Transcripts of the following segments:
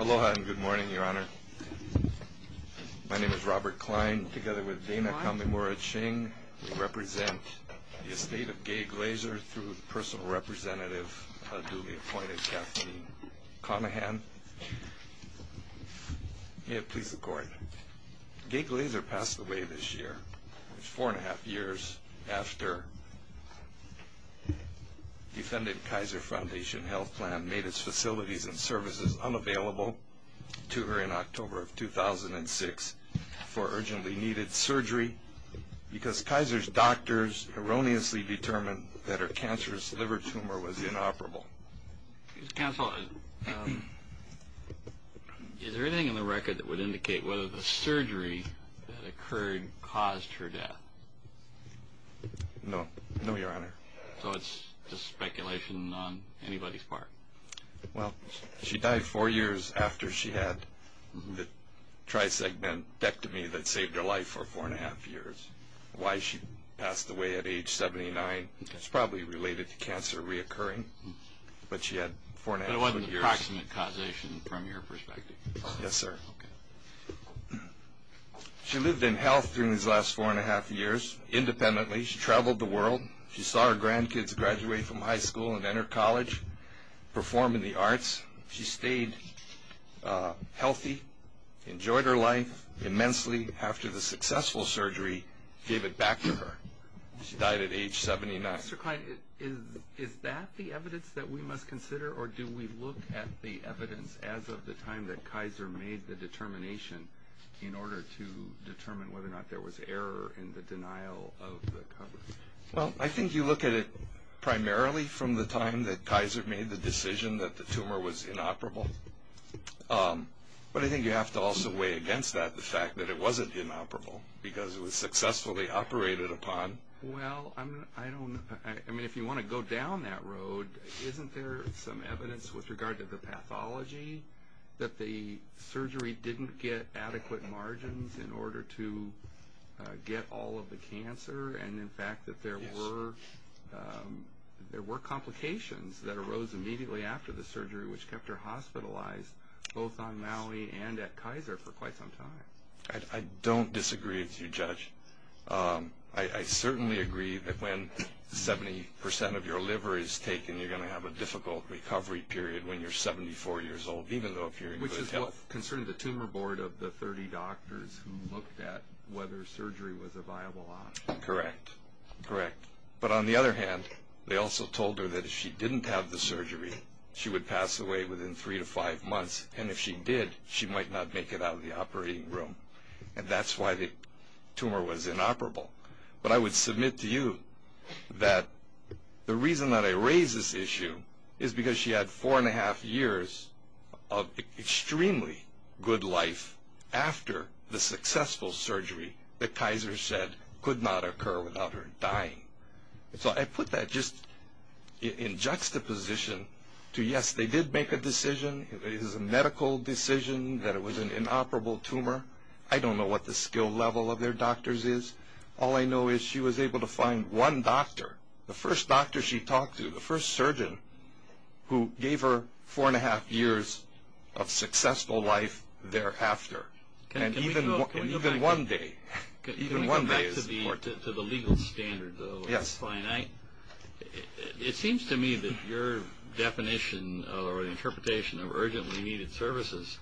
Aloha and good morning, Your Honor. My name is Robert Klein. Together with Dana Kamimura-Ching, we represent the estate of Gay Glazer through the personal representative duly appointed, Kathleen Conahan. May it please the Court, Gay Glazer passed away this year, four and a half years after defendant Kaiser Foundation Health Plan made its facilities and services unavailable to her in October of 2006 for urgently needed surgery because Kaiser's doctors erroneously determined that her cancerous liver tumor was inoperable. Counsel, is there anything in the record that would indicate whether the surgery that occurred caused her death? No, no, Your Honor. So it's just speculation on anybody's part? Well, she died four years after she had the trisegmentectomy that saved her life for four and a half years. Why she passed away at age 79 is probably related to cancer reoccurring, but she had four and a half years. But it wasn't an approximate causation from your perspective? Yes, sir. Okay. She lived in health during these last four and a half years independently. She traveled the world. She saw her grandkids graduate from high school and enter college, perform in the arts. She stayed healthy, enjoyed her life immensely. After the successful surgery, gave it back to her. She died at age 79. Dr. Klein, is that the evidence that we must consider, or do we look at the evidence as of the time that Kaiser made the determination in order to determine whether or not there was error in the denial of the coverage? Well, I think you look at it primarily from the time that Kaiser made the decision that the tumor was inoperable. But I think you have to also weigh against that the fact that it wasn't inoperable because it was successfully operated upon. Well, I don't know. I mean, if you want to go down that road, isn't there some evidence with regard to the pathology that the surgery didn't get adequate margins in order to get all of the cancer, and in fact that there were complications that arose immediately after the surgery which kept her hospitalized both on Maui and at Kaiser for quite some time? I don't disagree with you, Judge. I certainly agree that when 70% of your liver is taken, you're going to have a difficult recovery period when you're 74 years old, even though if you're in good health. Which is what concerned the tumor board of the 30 doctors who looked at whether surgery was a viable option. Correct. Correct. But on the other hand, they also told her that if she didn't have the surgery, she would pass away within three to five months, and if she did, she might not make it out of the operating room. And that's why the tumor was inoperable. But I would submit to you that the reason that I raise this issue is because she had four and a half years of extremely good life after the successful surgery that Kaiser said could not occur without her dying. So I put that just in juxtaposition to yes, they did make a decision. It was a medical decision that it was an inoperable tumor. I don't know what the skill level of their doctors is. All I know is she was able to find one doctor, the first doctor she talked to, the first surgeon who gave her four and a half years of successful life thereafter. Can we go back to the legal standard, though? It's finite. It seems to me that your definition or interpretation of urgently needed services,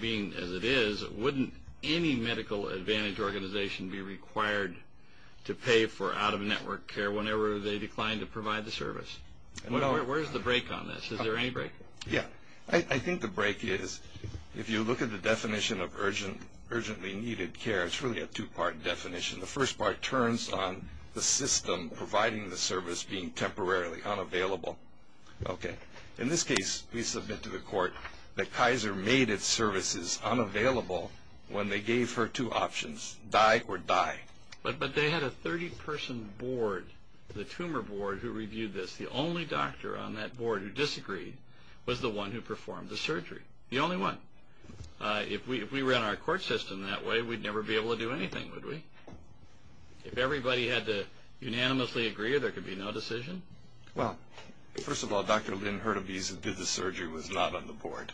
being as it is, wouldn't any medical advantage organization be required to pay for out-of-network care whenever they declined to provide the service? Where's the break on this? Is there any break? Yeah. I think the break is if you look at the definition of urgently needed care, it's really a two-part definition. The first part turns on the system providing the service being temporarily unavailable. Okay. In this case, we submit to the court that Kaiser made its services unavailable when they gave her two options, die or die. But they had a 30-person board, the tumor board, who reviewed this. The only doctor on that board who disagreed was the one who performed the surgery, the only one. If we ran our court system that way, we'd never be able to do anything, would we? If everybody had to unanimously agree, there could be no decision? Well, first of all, Dr. Lynn Hurtubise who did the surgery was not on the board.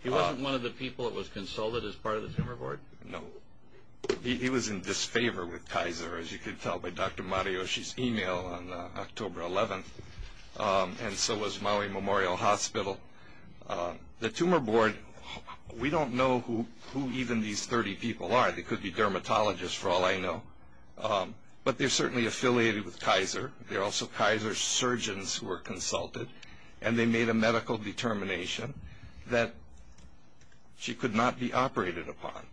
He wasn't one of the people that was consulted as part of the tumor board? No. He was in disfavor with Kaiser, as you can tell by Dr. Matayoshi's email on October 11th, and so was Maui Memorial Hospital. The tumor board, we don't know who even these 30 people are. They could be dermatologists, for all I know. But they're certainly affiliated with Kaiser. They're also Kaiser surgeons who were consulted, and they made a medical determination that she could not be operated upon.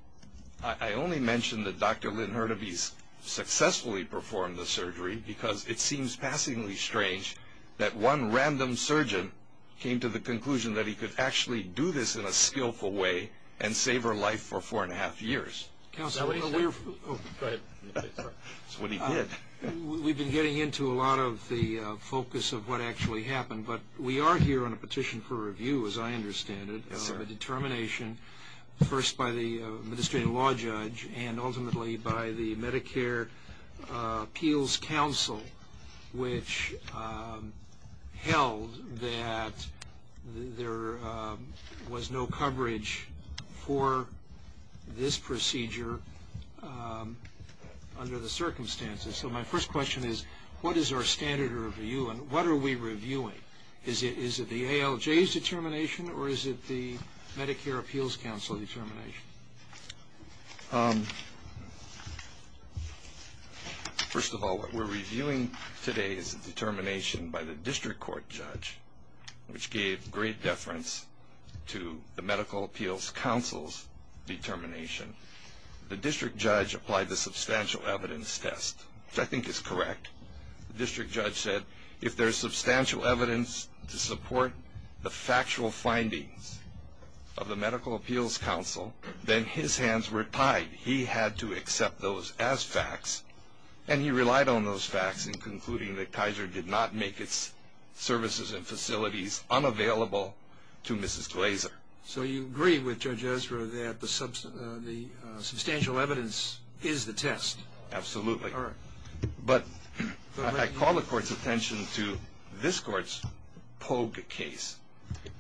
I only mention that Dr. Lynn Hurtubise successfully performed the surgery because it seems passingly strange that one random surgeon came to the conclusion that he could actually do this in a skillful way and save her life for four and a half years. Go ahead. That's what he did. So my first question is, what is our standard review, and what are we reviewing? Is it the ALJ's determination, or is it the Medicare Appeals Council determination? First of all, what we're reviewing today is a determination by the district court judge, which gave great deference to the Medical Appeals Council's determination. The district judge applied the substantial evidence test, which I think is correct. The district judge said if there's substantial evidence to support the factual findings of the Medical Appeals Council, then his hands were tied. He had to accept those as facts, and he relied on those facts in concluding that Kaiser did not make its services and facilities unavailable to Mrs. Glaser. So you agree with Judge Ezra that the substantial evidence is the test? Absolutely. All right. But I call the court's attention to this court's Pogue case.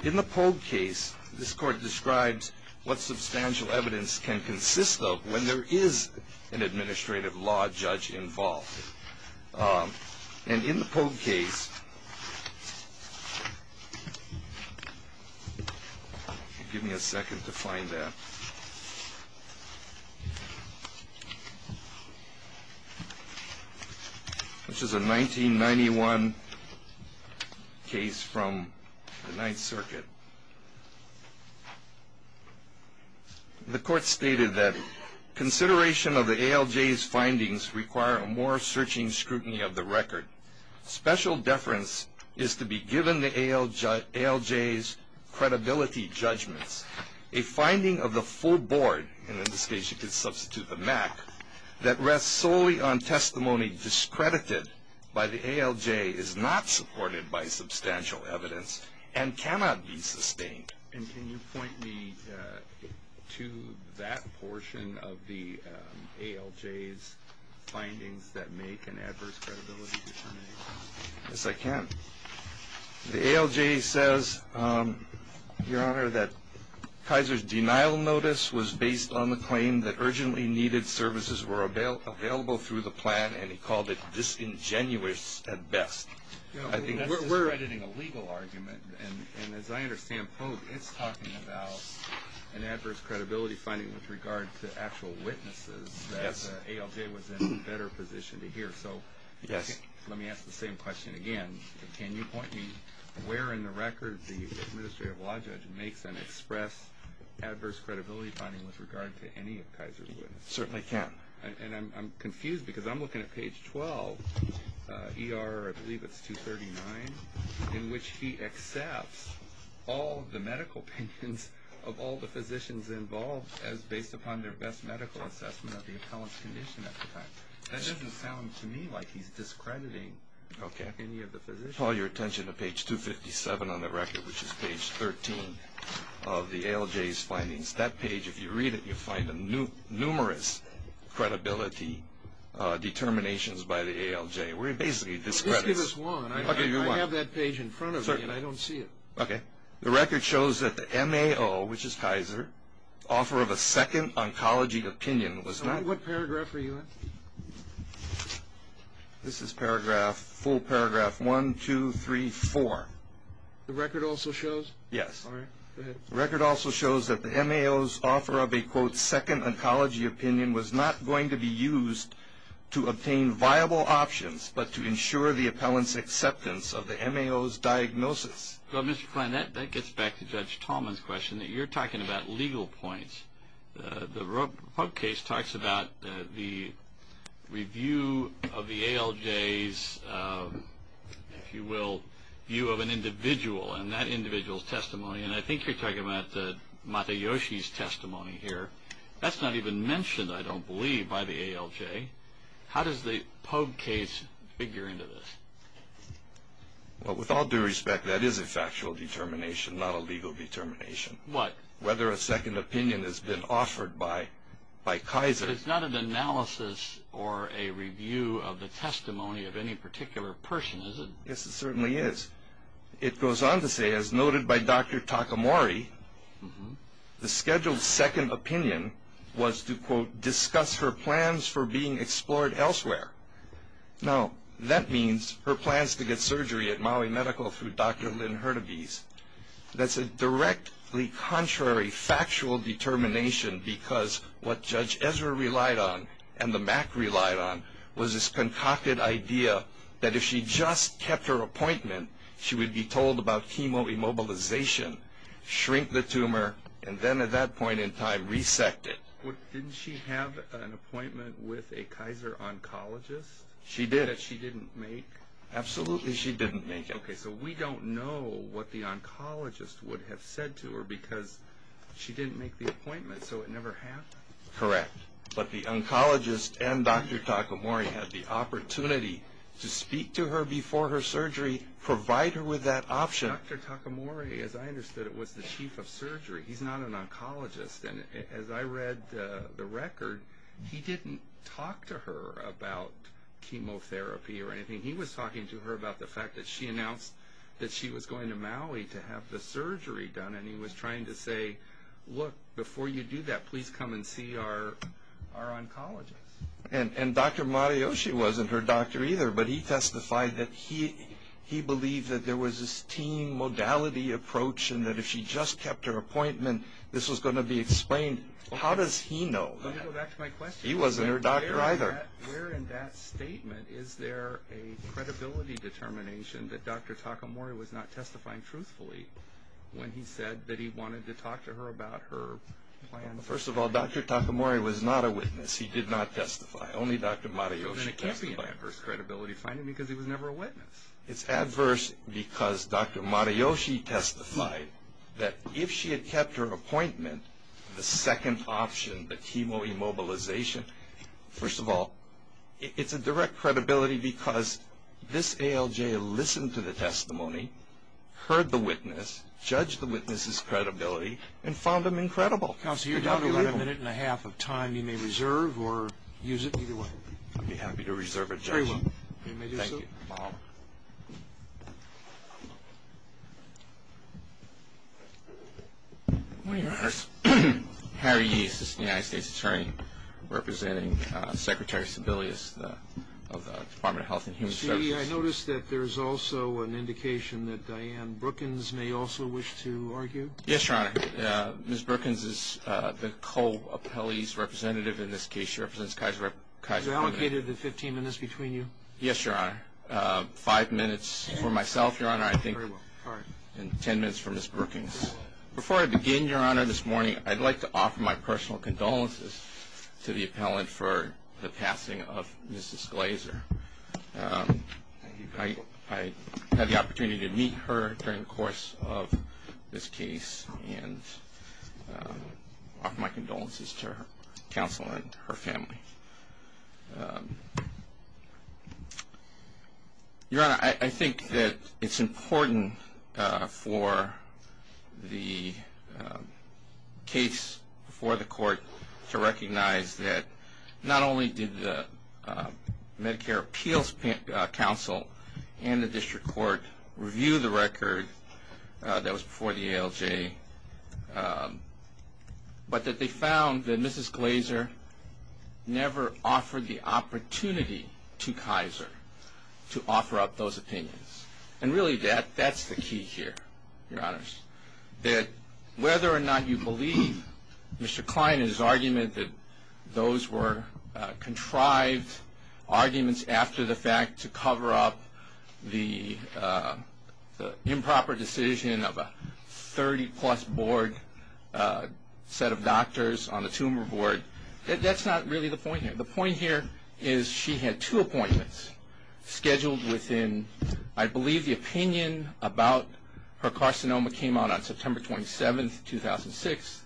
In the Pogue case, this court describes what substantial evidence can consist of when there is an administrative law judge involved. And in the Pogue case, give me a second to find that, which is a 1991 case from the Ninth Circuit. The court stated that consideration of the ALJ's findings require a more searching scrutiny of the record. Special deference is to be given the ALJ's credibility judgments. A finding of the full board, and in this case you could substitute the MAC, that rests solely on testimony discredited by the ALJ is not supported by substantial evidence and cannot be sustained. And can you point me to that portion of the ALJ's findings that make an adverse credibility determination? Yes, I can. The ALJ says, Your Honor, that Kaiser's denial notice was based on the claim that urgently needed services were available through the plan, and he called it disingenuous at best. That's discrediting a legal argument, and as I understand Pogue, it's talking about an adverse credibility finding with regard to actual witnesses that the ALJ was in a better position to hear. So let me ask the same question again. Can you point me where in the record the administrative law judge makes an express adverse credibility finding with regard to any of Kaiser's witnesses? Certainly can. And I'm confused because I'm looking at page 12, ER, I believe it's 239, in which he accepts all the medical opinions of all the physicians involved as based upon their best medical assessment of the appellant's condition at the time. That doesn't sound to me like he's discrediting any of the physicians. Let me call your attention to page 257 on the record, which is page 13 of the ALJ's findings. That page, if you read it, you'll find numerous credibility determinations by the ALJ where he basically discredits. Just give us one. I have that page in front of me and I don't see it. Okay. The record shows that the MAO, which is Kaiser, offer of a second oncology opinion was not What paragraph are you in? This is full paragraph 1, 2, 3, 4. The record also shows? Yes. All right. Go ahead. The record also shows that the MAO's offer of a, quote, second oncology opinion was not going to be used to obtain viable options, but to ensure the appellant's acceptance of the MAO's diagnosis. Well, Mr. Kline, that gets back to Judge Tallman's question that you're talking about legal points. The Pogue case talks about the review of the ALJ's, if you will, view of an individual and that individual's testimony, and I think you're talking about Matayoshi's testimony here. That's not even mentioned, I don't believe, by the ALJ. How does the Pogue case figure into this? Well, with all due respect, that is a factual determination, not a legal determination. What? Whether a second opinion has been offered by Kaiser. But it's not an analysis or a review of the testimony of any particular person, is it? Yes, it certainly is. It goes on to say, as noted by Dr. Takamori, the scheduled second opinion was to, quote, discuss her plans for being explored elsewhere. Now, that means her plans to get surgery at Maui Medical through Dr. Lynn Hurtubise. That's a directly contrary factual determination because what Judge Ezra relied on and the MAC relied on was this concocted idea that if she just kept her appointment, she would be told about chemoimmobilization, shrink the tumor, and then at that point in time, resect it. Didn't she have an appointment with a Kaiser oncologist? She did. That she didn't make? Absolutely, she didn't make it. Okay, so we don't know what the oncologist would have said to her because she didn't make the appointment, so it never happened? Correct. But the oncologist and Dr. Takamori had the opportunity to speak to her before her surgery, provide her with that option. Dr. Takamori, as I understood it, was the chief of surgery. He's not an oncologist, and as I read the record, he didn't talk to her about chemotherapy or anything. He was talking to her about the fact that she announced that she was going to Maui to have the surgery done, and he was trying to say, look, before you do that, please come and see our oncologist. And Dr. Marioshi wasn't her doctor either, but he testified that he believed that there was this team modality approach and that if she just kept her appointment, this was going to be explained. How does he know that? Let me go back to my question. He wasn't her doctor either. Where in that statement is there a credibility determination that Dr. Takamori was not testifying truthfully when he said that he wanted to talk to her about her plan? Well, first of all, Dr. Takamori was not a witness. He did not testify. Only Dr. Marioshi testified. Then it can't be an adverse credibility finding because he was never a witness. It's adverse because Dr. Marioshi testified that if she had kept her appointment, the second option, the chemo immobilization, first of all, it's a direct credibility because this ALJ listened to the testimony, heard the witness, judged the witness's credibility, and found him incredible. Counsel, you're down to about a minute and a half of time. You may reserve or use it either way. I'd be happy to reserve or judge. Very well. You may do so. Thank you. Harry Yee is the United States Attorney representing Secretary Sebelius of the Department of Health and Human Services. See, I noticed that there's also an indication that Diane Brookins may also wish to argue. Yes, Your Honor. Ms. Brookins is the co-appellee's representative in this case. She represents Kaiser Permanente. Is it allocated to 15 minutes between you? Yes, Your Honor. Five minutes for myself, Your Honor, I think, and 10 minutes for Ms. Brookins. Before I begin, Your Honor, this morning, I'd like to offer my personal condolences to the appellant for the passing of Mrs. Glazer. Thank you. I had the opportunity to meet her during the course of this case and offer my condolences to her counsel and her family. Your Honor, I think that it's important for the case before the court to recognize that not only did the Medicare Appeals Council and the district court review the record that was before the ALJ, but that they found that Mrs. Glazer never offered the opportunity to Kaiser to offer up those opinions. And really, that's the key here, Your Honors, that whether or not you believe Mr. Klein and his argument that those were contrived arguments after the fact to cover up the improper decision of a 30-plus board set of doctors on the tumor board, that's not really the point here. The point here is she had two appointments scheduled within, I believe, the opinion about her carcinoma came out on September 27th, 2006,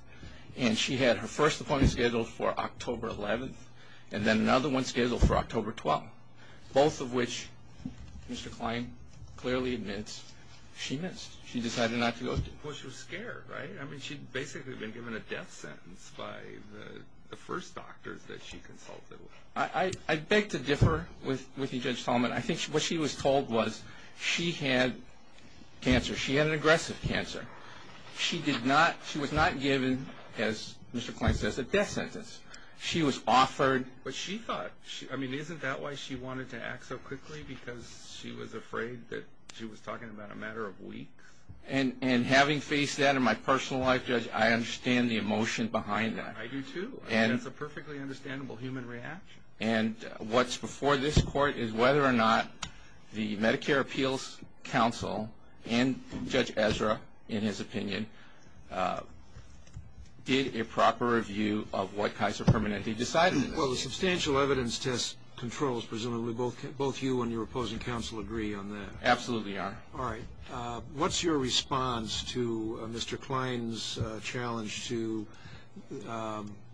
and she had her first appointment scheduled for October 11th and then another one scheduled for October 12th, both of which Mr. Klein clearly admits she missed. She decided not to go through. Well, she was scared, right? I mean, she'd basically been given a death sentence by the first doctors that she consulted with. I beg to differ with you, Judge Tallman. I think what she was told was she had cancer. She had an aggressive cancer. She was not given, as Mr. Klein says, a death sentence. She was offered. But she thought. I mean, isn't that why she wanted to act so quickly, because she was afraid that she was talking about a matter of weeks? And having faced that in my personal life, Judge, I understand the emotion behind that. I do, too. That's a perfectly understandable human reaction. And what's before this Court is whether or not the Medicare Appeals Council and Judge Ezra, in his opinion, did a proper review of what Kaiser Permanente decided. Well, the substantial evidence test controls, presumably. Both you and your opposing counsel agree on that. Absolutely are. All right. What's your response to Mr. Klein's challenge to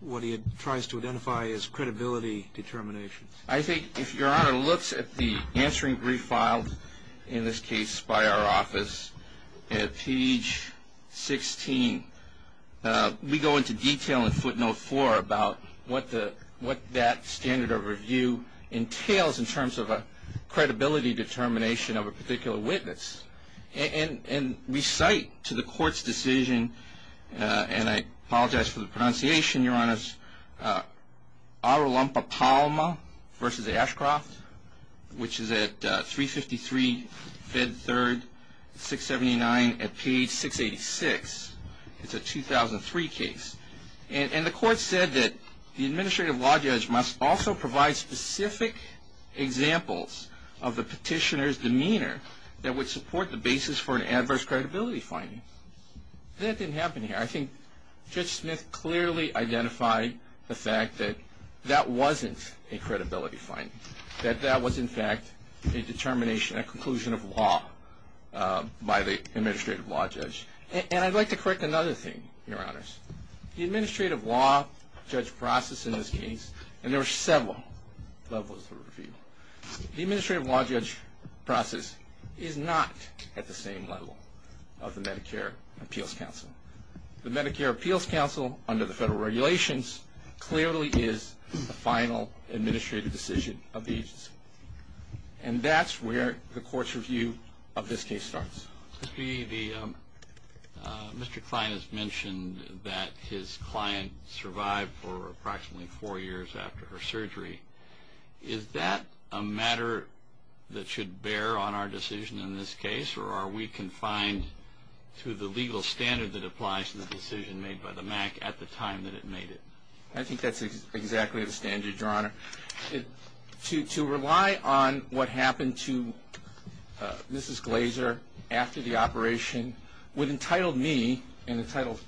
what he tries to identify as credibility determination? I think if Your Honor looks at the answering brief filed, in this case by our office, at page 16, we go into detail in footnote 4 about what that standard of review entails in terms of a credibility determination of a particular witness. And we cite to the Court's decision, and I apologize for the pronunciation, Your Honors, Arolumpopalma v. Ashcroft, which is at 353 Fed 3, 679 at page 686. It's a 2003 case. And the Court said that the administrative law judge must also provide specific examples of the petitioner's demeanor that would support the basis for an adverse credibility finding. That didn't happen here. I think Judge Smith clearly identified the fact that that wasn't a credibility finding, that that was, in fact, a determination, a conclusion of law by the administrative law judge. And I'd like to correct another thing, Your Honors. The administrative law judge process in this case, and there are several levels of review, the administrative law judge process is not at the same level of the Medicare Appeals Council. The Medicare Appeals Council, under the federal regulations, clearly is the final administrative decision of the agency. And that's where the Court's review of this case starts. Mr. Klein has mentioned that his client survived for approximately four years after her surgery. Is that a matter that should bear on our decision in this case, or are we confined to the legal standard that applies to the decision made by the MAC at the time that it made it? I think that's exactly the standard, Your Honor. To rely on what happened to Mrs. Glaser after the operation would entitle me, and entitle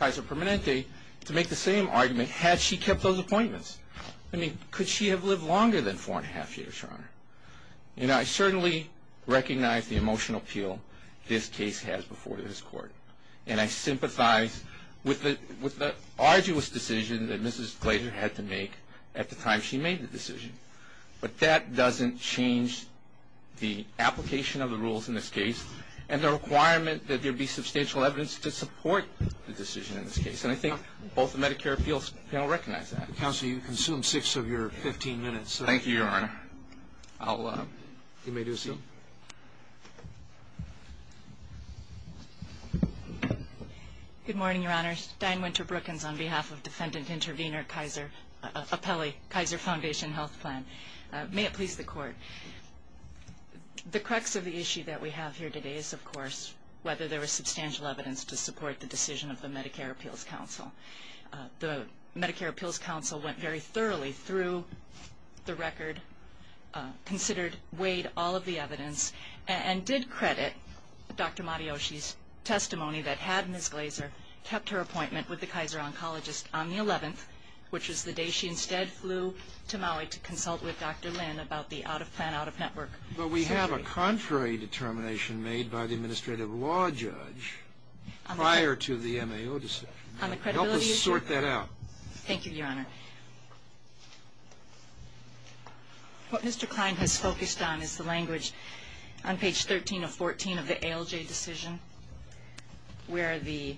Kaiser Permanente, to make the same argument had she kept those appointments. I mean, could she have lived longer than four and a half years, Your Honor? And I certainly recognize the emotional appeal this case has before this Court, and I sympathize with the arduous decision that Mrs. Glaser had to make at the time she made the decision. But that doesn't change the application of the rules in this case, and the requirement that there be substantial evidence to support the decision in this case. And I think both the Medicare Appeals Panel recognize that. Counsel, you consumed six of your 15 minutes. Thank you, Your Honor. You may do so. Good morning, Your Honors. Diane Winter Brookins on behalf of Defendant Intervenor Kaiser, Appellee, Kaiser Foundation Health Plan. May it please the Court. The crux of the issue that we have here today is, of course, whether there was substantial evidence to support the decision of the Medicare Appeals Council. The Medicare Appeals Council went very thoroughly through the record, considered, weighed all of the evidence, and did credit Dr. Matayoshi's testimony that had Ms. Glaser kept her appointment with the Kaiser oncologist on the 11th, which was the day she instead flew to Maui to consult with Dr. Lin about the out-of-plan, out-of-network surgery. But we have a contrary determination made by the administrative law judge prior to the MAO decision. On the credibility issue. Help us sort that out. Thank you, Your Honor. What Mr. Klein has focused on is the language on page 13 of 14 of the ALJ decision, where the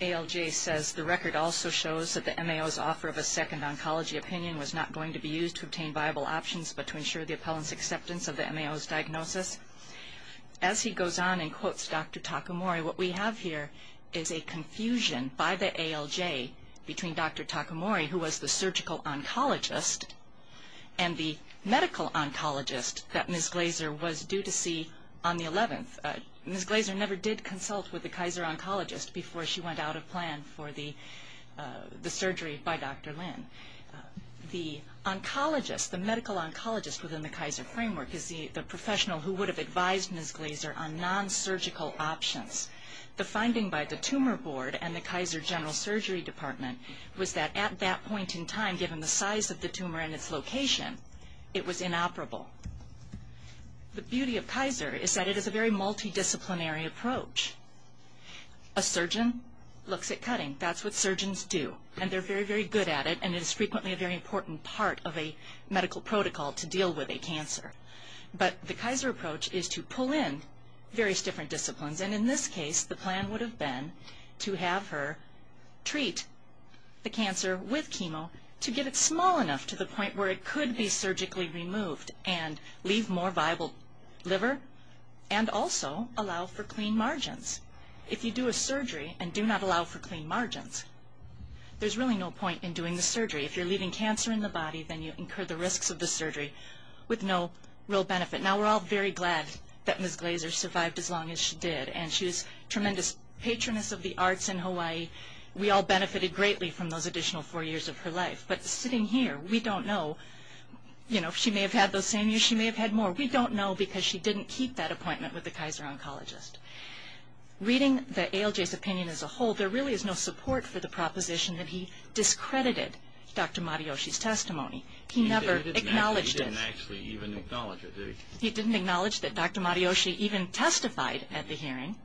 ALJ says, The record also shows that the MAO's offer of a second oncology opinion was not going to be used to obtain viable options, but to ensure the appellant's acceptance of the MAO's diagnosis. As he goes on and quotes Dr. Takamori, what we have here is a confusion by the ALJ between Dr. Takamori, who was the surgical oncologist, and the medical oncologist that Ms. Glaser was due to see on the 11th. Ms. Glaser never did consult with the Kaiser oncologist before she went out of plan for the surgery by Dr. Lin. The oncologist, the medical oncologist within the Kaiser framework, is the professional who would have advised Ms. Glaser on non-surgical options. The finding by the tumor board and the Kaiser general surgery department was that at that point in time, given the size of the tumor and its location, it was inoperable. The beauty of Kaiser is that it is a very multidisciplinary approach. A surgeon looks at cutting. That's what surgeons do. And they're very, very good at it. And it is frequently a very important part of a medical protocol to deal with a cancer. But the Kaiser approach is to pull in various different disciplines. And in this case, the plan would have been to have her treat the cancer with chemo to get it small enough to the point where it could be surgically removed and leave more viable liver and also allow for clean margins. If you do a surgery and do not allow for clean margins, there's really no point in doing the surgery. If you're leaving cancer in the body, then you incur the risks of the surgery with no real benefit. Now, we're all very glad that Ms. Glaser survived as long as she did. And she was a tremendous patroness of the arts in Hawaii. We all benefited greatly from those additional four years of her life. But sitting here, we don't know. You know, she may have had those same years. She may have had more. We don't know because she didn't keep that appointment with the Kaiser oncologist. Reading the ALJ's opinion as a whole, there really is no support for the proposition that he discredited Dr. Matayoshi's testimony. He never acknowledged it. He didn't actually even acknowledge it, did he? He didn't acknowledge that Dr. Matayoshi even testified at the hearing.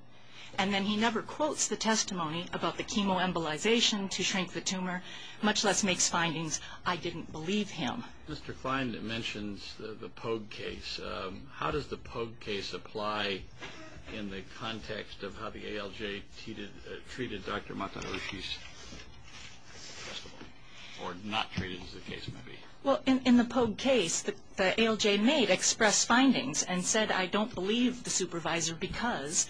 And then he never quotes the testimony about the chemoembolization to shrink the tumor, much less makes findings, I didn't believe him. Mr. Klein, it mentions the Pogue case. How does the Pogue case apply in the context of how the ALJ treated Dr. Matayoshi's testimony or not treated as the case may be? Well, in the Pogue case, the ALJ made express findings and said, I don't believe the supervisor because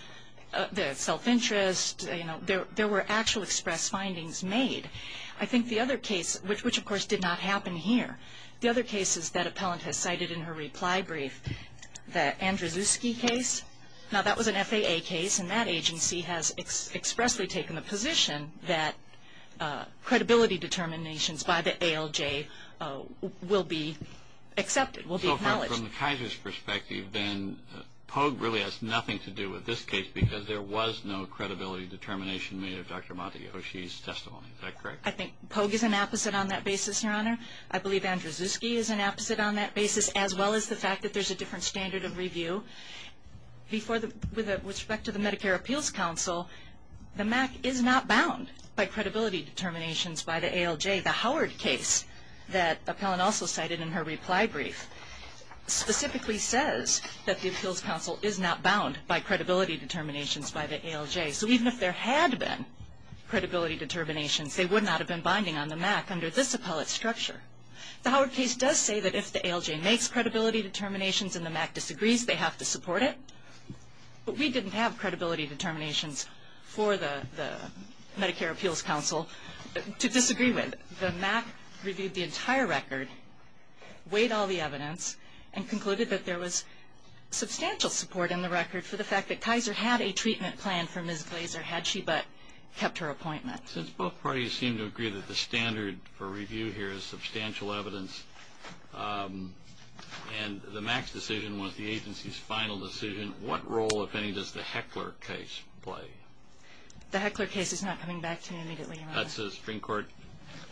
the self-interest, you know, there were actual express findings made. I think the other case, which of course did not happen here, the other cases that appellant has cited in her reply brief, the Andrzejewski case, now that was an FAA case and that agency has expressly taken the position that credibility determinations by the ALJ will be accepted, will be acknowledged. So from the Kaiser's perspective, then Pogue really has nothing to do with this case because there was no credibility determination made of Dr. Matayoshi's testimony. Is that correct? I think Pogue is an opposite on that basis, Your Honor. I believe Andrzejewski is an opposite on that basis, as well as the fact that there's a different standard of review. With respect to the Medicare Appeals Council, the MAC is not bound by credibility determinations by the ALJ. The Howard case that appellant also cited in her reply brief specifically says that the Appeals Council is not bound by credibility determinations by the ALJ. So even if there had been credibility determinations, they would not have been binding on the MAC under this appellate structure. The Howard case does say that if the ALJ makes credibility determinations and the MAC disagrees, they have to support it. But we didn't have credibility determinations for the Medicare Appeals Council to disagree with. The MAC reviewed the entire record, weighed all the evidence, and concluded that there was substantial support in the record for the fact that Kaiser had a treatment plan for Ms. Glaser, had she but kept her appointment. Since both parties seem to agree that the standard for review here is substantial evidence and the MAC's decision was the agency's final decision, what role, if any, does the Heckler case play? The Heckler case is not coming back to me immediately, Your Honor. That's a Supreme Court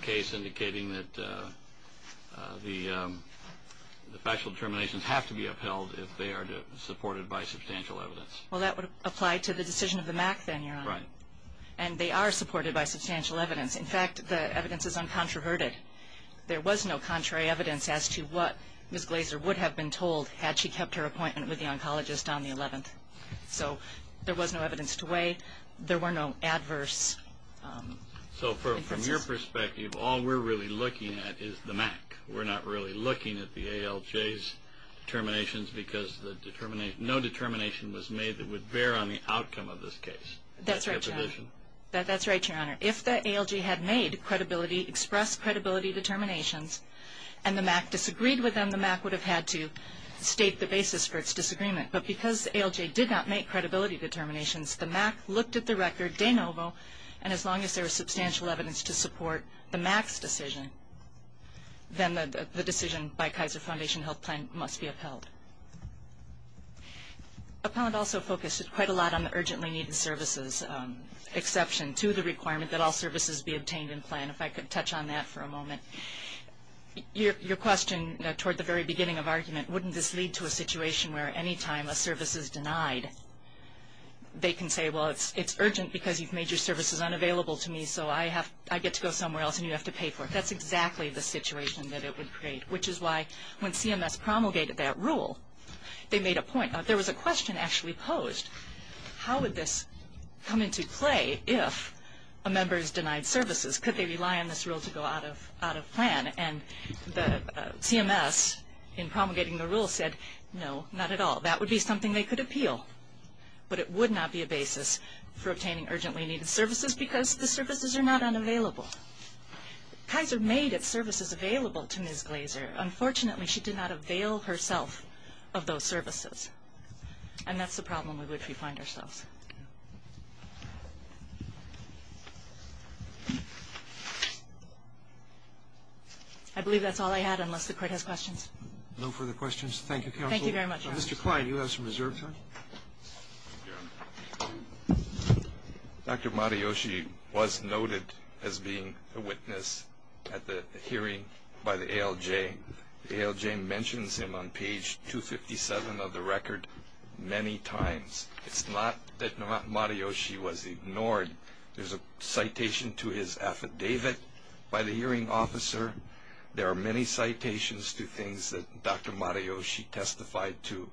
case indicating that the factual determinations have to be upheld if they are supported by substantial evidence. Well, that would apply to the decision of the MAC then, Your Honor. Right. And they are supported by substantial evidence. In fact, the evidence is uncontroverted. There was no contrary evidence as to what Ms. Glaser would have been told had she kept her appointment with the oncologist on the 11th. So there was no evidence to weigh. There were no adverse inferences. So from your perspective, all we're really looking at is the MAC. We're not really looking at the ALJ's determinations because no determination was made that would bear on the outcome of this case. That's right, Your Honor. That's right, Your Honor. If the ALJ had expressed credibility determinations and the MAC disagreed with them, the MAC would have had to state the basis for its disagreement. But because the ALJ did not make credibility determinations, the MAC looked at the record, de novo, and as long as there was substantial evidence to support the MAC's decision, then the decision by Kaiser Foundation Health Plan must be upheld. Appellant also focused quite a lot on the urgently needed services exception to the requirement that all services be obtained in plan, if I could touch on that for a moment. Your question toward the very beginning of argument, wouldn't this lead to a situation where any time a service is denied, they can say, well, it's urgent because you've made your services unavailable to me, so I get to go somewhere else and you have to pay for it. That's exactly the situation that it would create, which is why when CMS promulgated that rule, they made a point. There was a question actually posed. How would this come into play if a member is denied services? Could they rely on this rule to go out of plan? And CMS, in promulgating the rule, said, no, not at all. That would be something they could appeal. But it would not be a basis for obtaining urgently needed services because the services are not unavailable. Kaiser made its services available to Ms. Glaser. Unfortunately, she did not avail herself of those services. And that's the problem with which we find ourselves. I believe that's all I had, unless the Court has questions. No further questions. Thank you, counsel. Thank you very much. Mr. Kline, you have some reserve time. Dr. Matayoshi was noted as being a witness at the hearing by the ALJ. The ALJ mentions him on page 257 of the record many times. It's not that Matayoshi was ignored. There's a citation to his affidavit by the hearing officer. There are many citations to things that Dr. Matayoshi testified to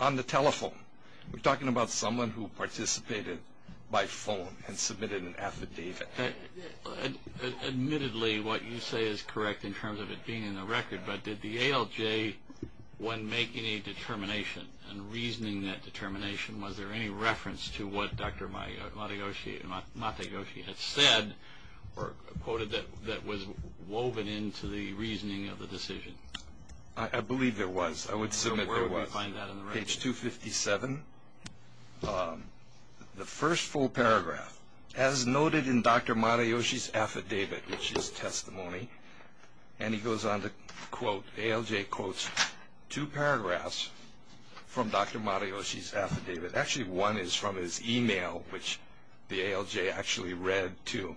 on the telephone. We're talking about someone who participated by phone and submitted an affidavit. Admittedly, what you say is correct in terms of it being in the record, but did the ALJ, when making a determination and reasoning that determination, was there any reference to what Dr. Matayoshi had said or quoted that was woven into the reasoning of the decision? I believe there was. I would submit there was. Page 257. The first full paragraph, as noted in Dr. Matayoshi's affidavit, which is testimony, and he goes on to quote, ALJ quotes two paragraphs from Dr. Matayoshi's affidavit. Actually, one is from his e-mail, which the ALJ actually read too.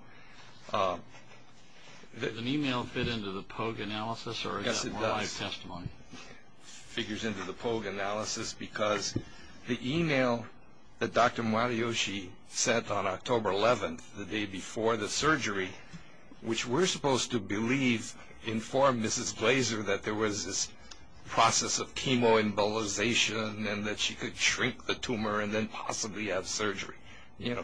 Does an e-mail fit into the POG analysis or is that more like testimony? It figures into the POG analysis because the e-mail that Dr. Matayoshi sent on October 11th, the day before the surgery, which we're supposed to believe informed Mrs. Glaser that there was this process of chemoembolization and that she could shrink the tumor and then possibly have surgery.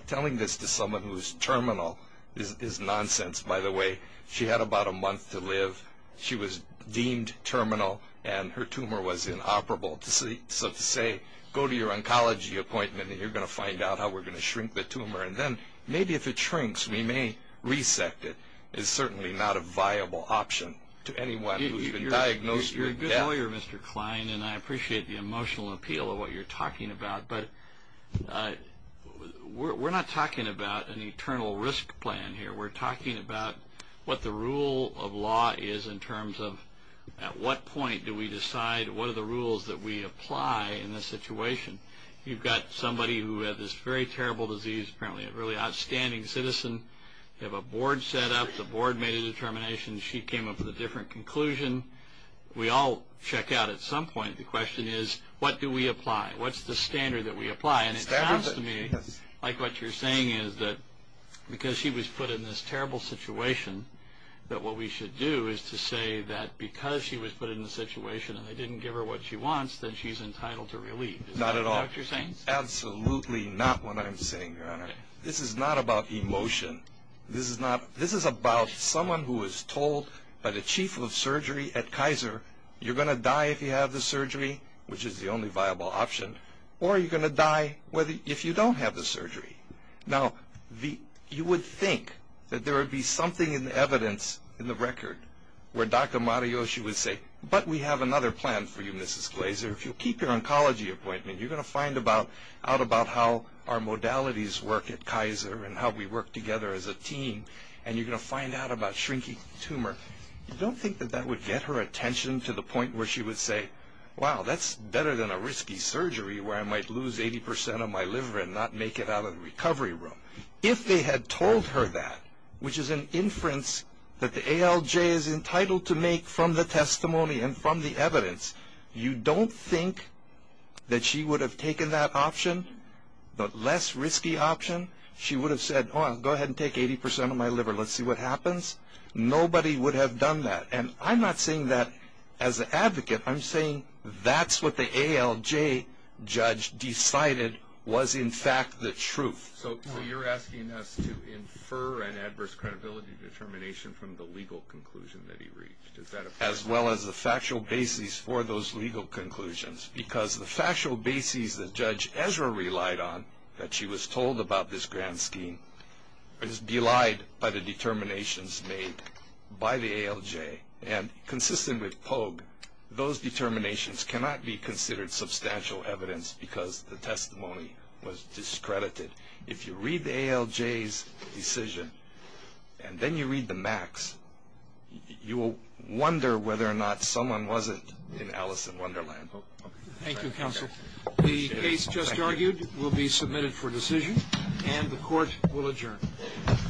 Telling this to someone who is terminal is nonsense, by the way. She had about a month to live. She was deemed terminal and her tumor was inoperable. So to say, go to your oncology appointment and you're going to find out how we're going to shrink the tumor and then maybe if it shrinks we may resect it is certainly not a viable option to anyone who's been diagnosed with death. You're a good lawyer, Mr. Klein, and I appreciate the emotional appeal of what you're talking about, but we're not talking about an eternal risk plan here. We're talking about what the rule of law is in terms of at what point do we decide what are the rules that we apply in this situation. You've got somebody who had this very terrible disease, apparently a really outstanding citizen. You have a board set up. The board made a determination. She came up with a different conclusion. We all check out at some point. What's the standard that we apply? It sounds to me like what you're saying is that because she was put in this terrible situation that what we should do is to say that because she was put in this situation and they didn't give her what she wants, then she's entitled to relief. Is that what you're saying? Not at all. Absolutely not what I'm saying, Your Honor. This is not about emotion. This is about someone who is told by the chief of surgery at Kaiser, you're going to die if you have the surgery, which is the only viable option, or you're going to die if you don't have the surgery. Now, you would think that there would be something in the evidence in the record where Dr. Mario, she would say, but we have another plan for you, Mrs. Glazer. If you keep your oncology appointment, you're going to find out about how our modalities work at Kaiser and how we work together as a team, and you're going to find out about shrinking tumor. You don't think that that would get her attention to the point where she would say, wow, that's better than a risky surgery where I might lose 80% of my liver and not make it out of the recovery room. If they had told her that, which is an inference that the ALJ is entitled to make from the testimony and from the evidence, you don't think that she would have taken that option, the less risky option. She would have said, oh, I'll go ahead and take 80% of my liver. Let's see what happens. Nobody would have done that. And I'm not saying that as an advocate. I'm saying that's what the ALJ judge decided was in fact the truth. So you're asking us to infer an adverse credibility determination from the legal conclusion that he reached. Does that apply? As well as the factual basis for those legal conclusions because the factual basis that Judge Ezra relied on that she was told about this grand scheme is belied by the determinations made by the ALJ. And consistent with Pogue, those determinations cannot be considered substantial evidence because the testimony was discredited. If you read the ALJ's decision and then you read the Mac's, you will wonder whether or not someone wasn't in Alice in Wonderland. Thank you, counsel. The case just argued will be submitted for decision, and the court will adjourn. Thank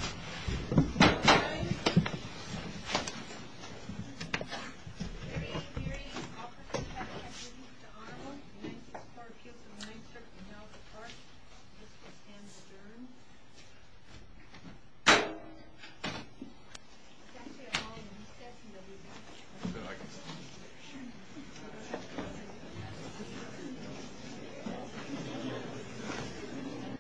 you.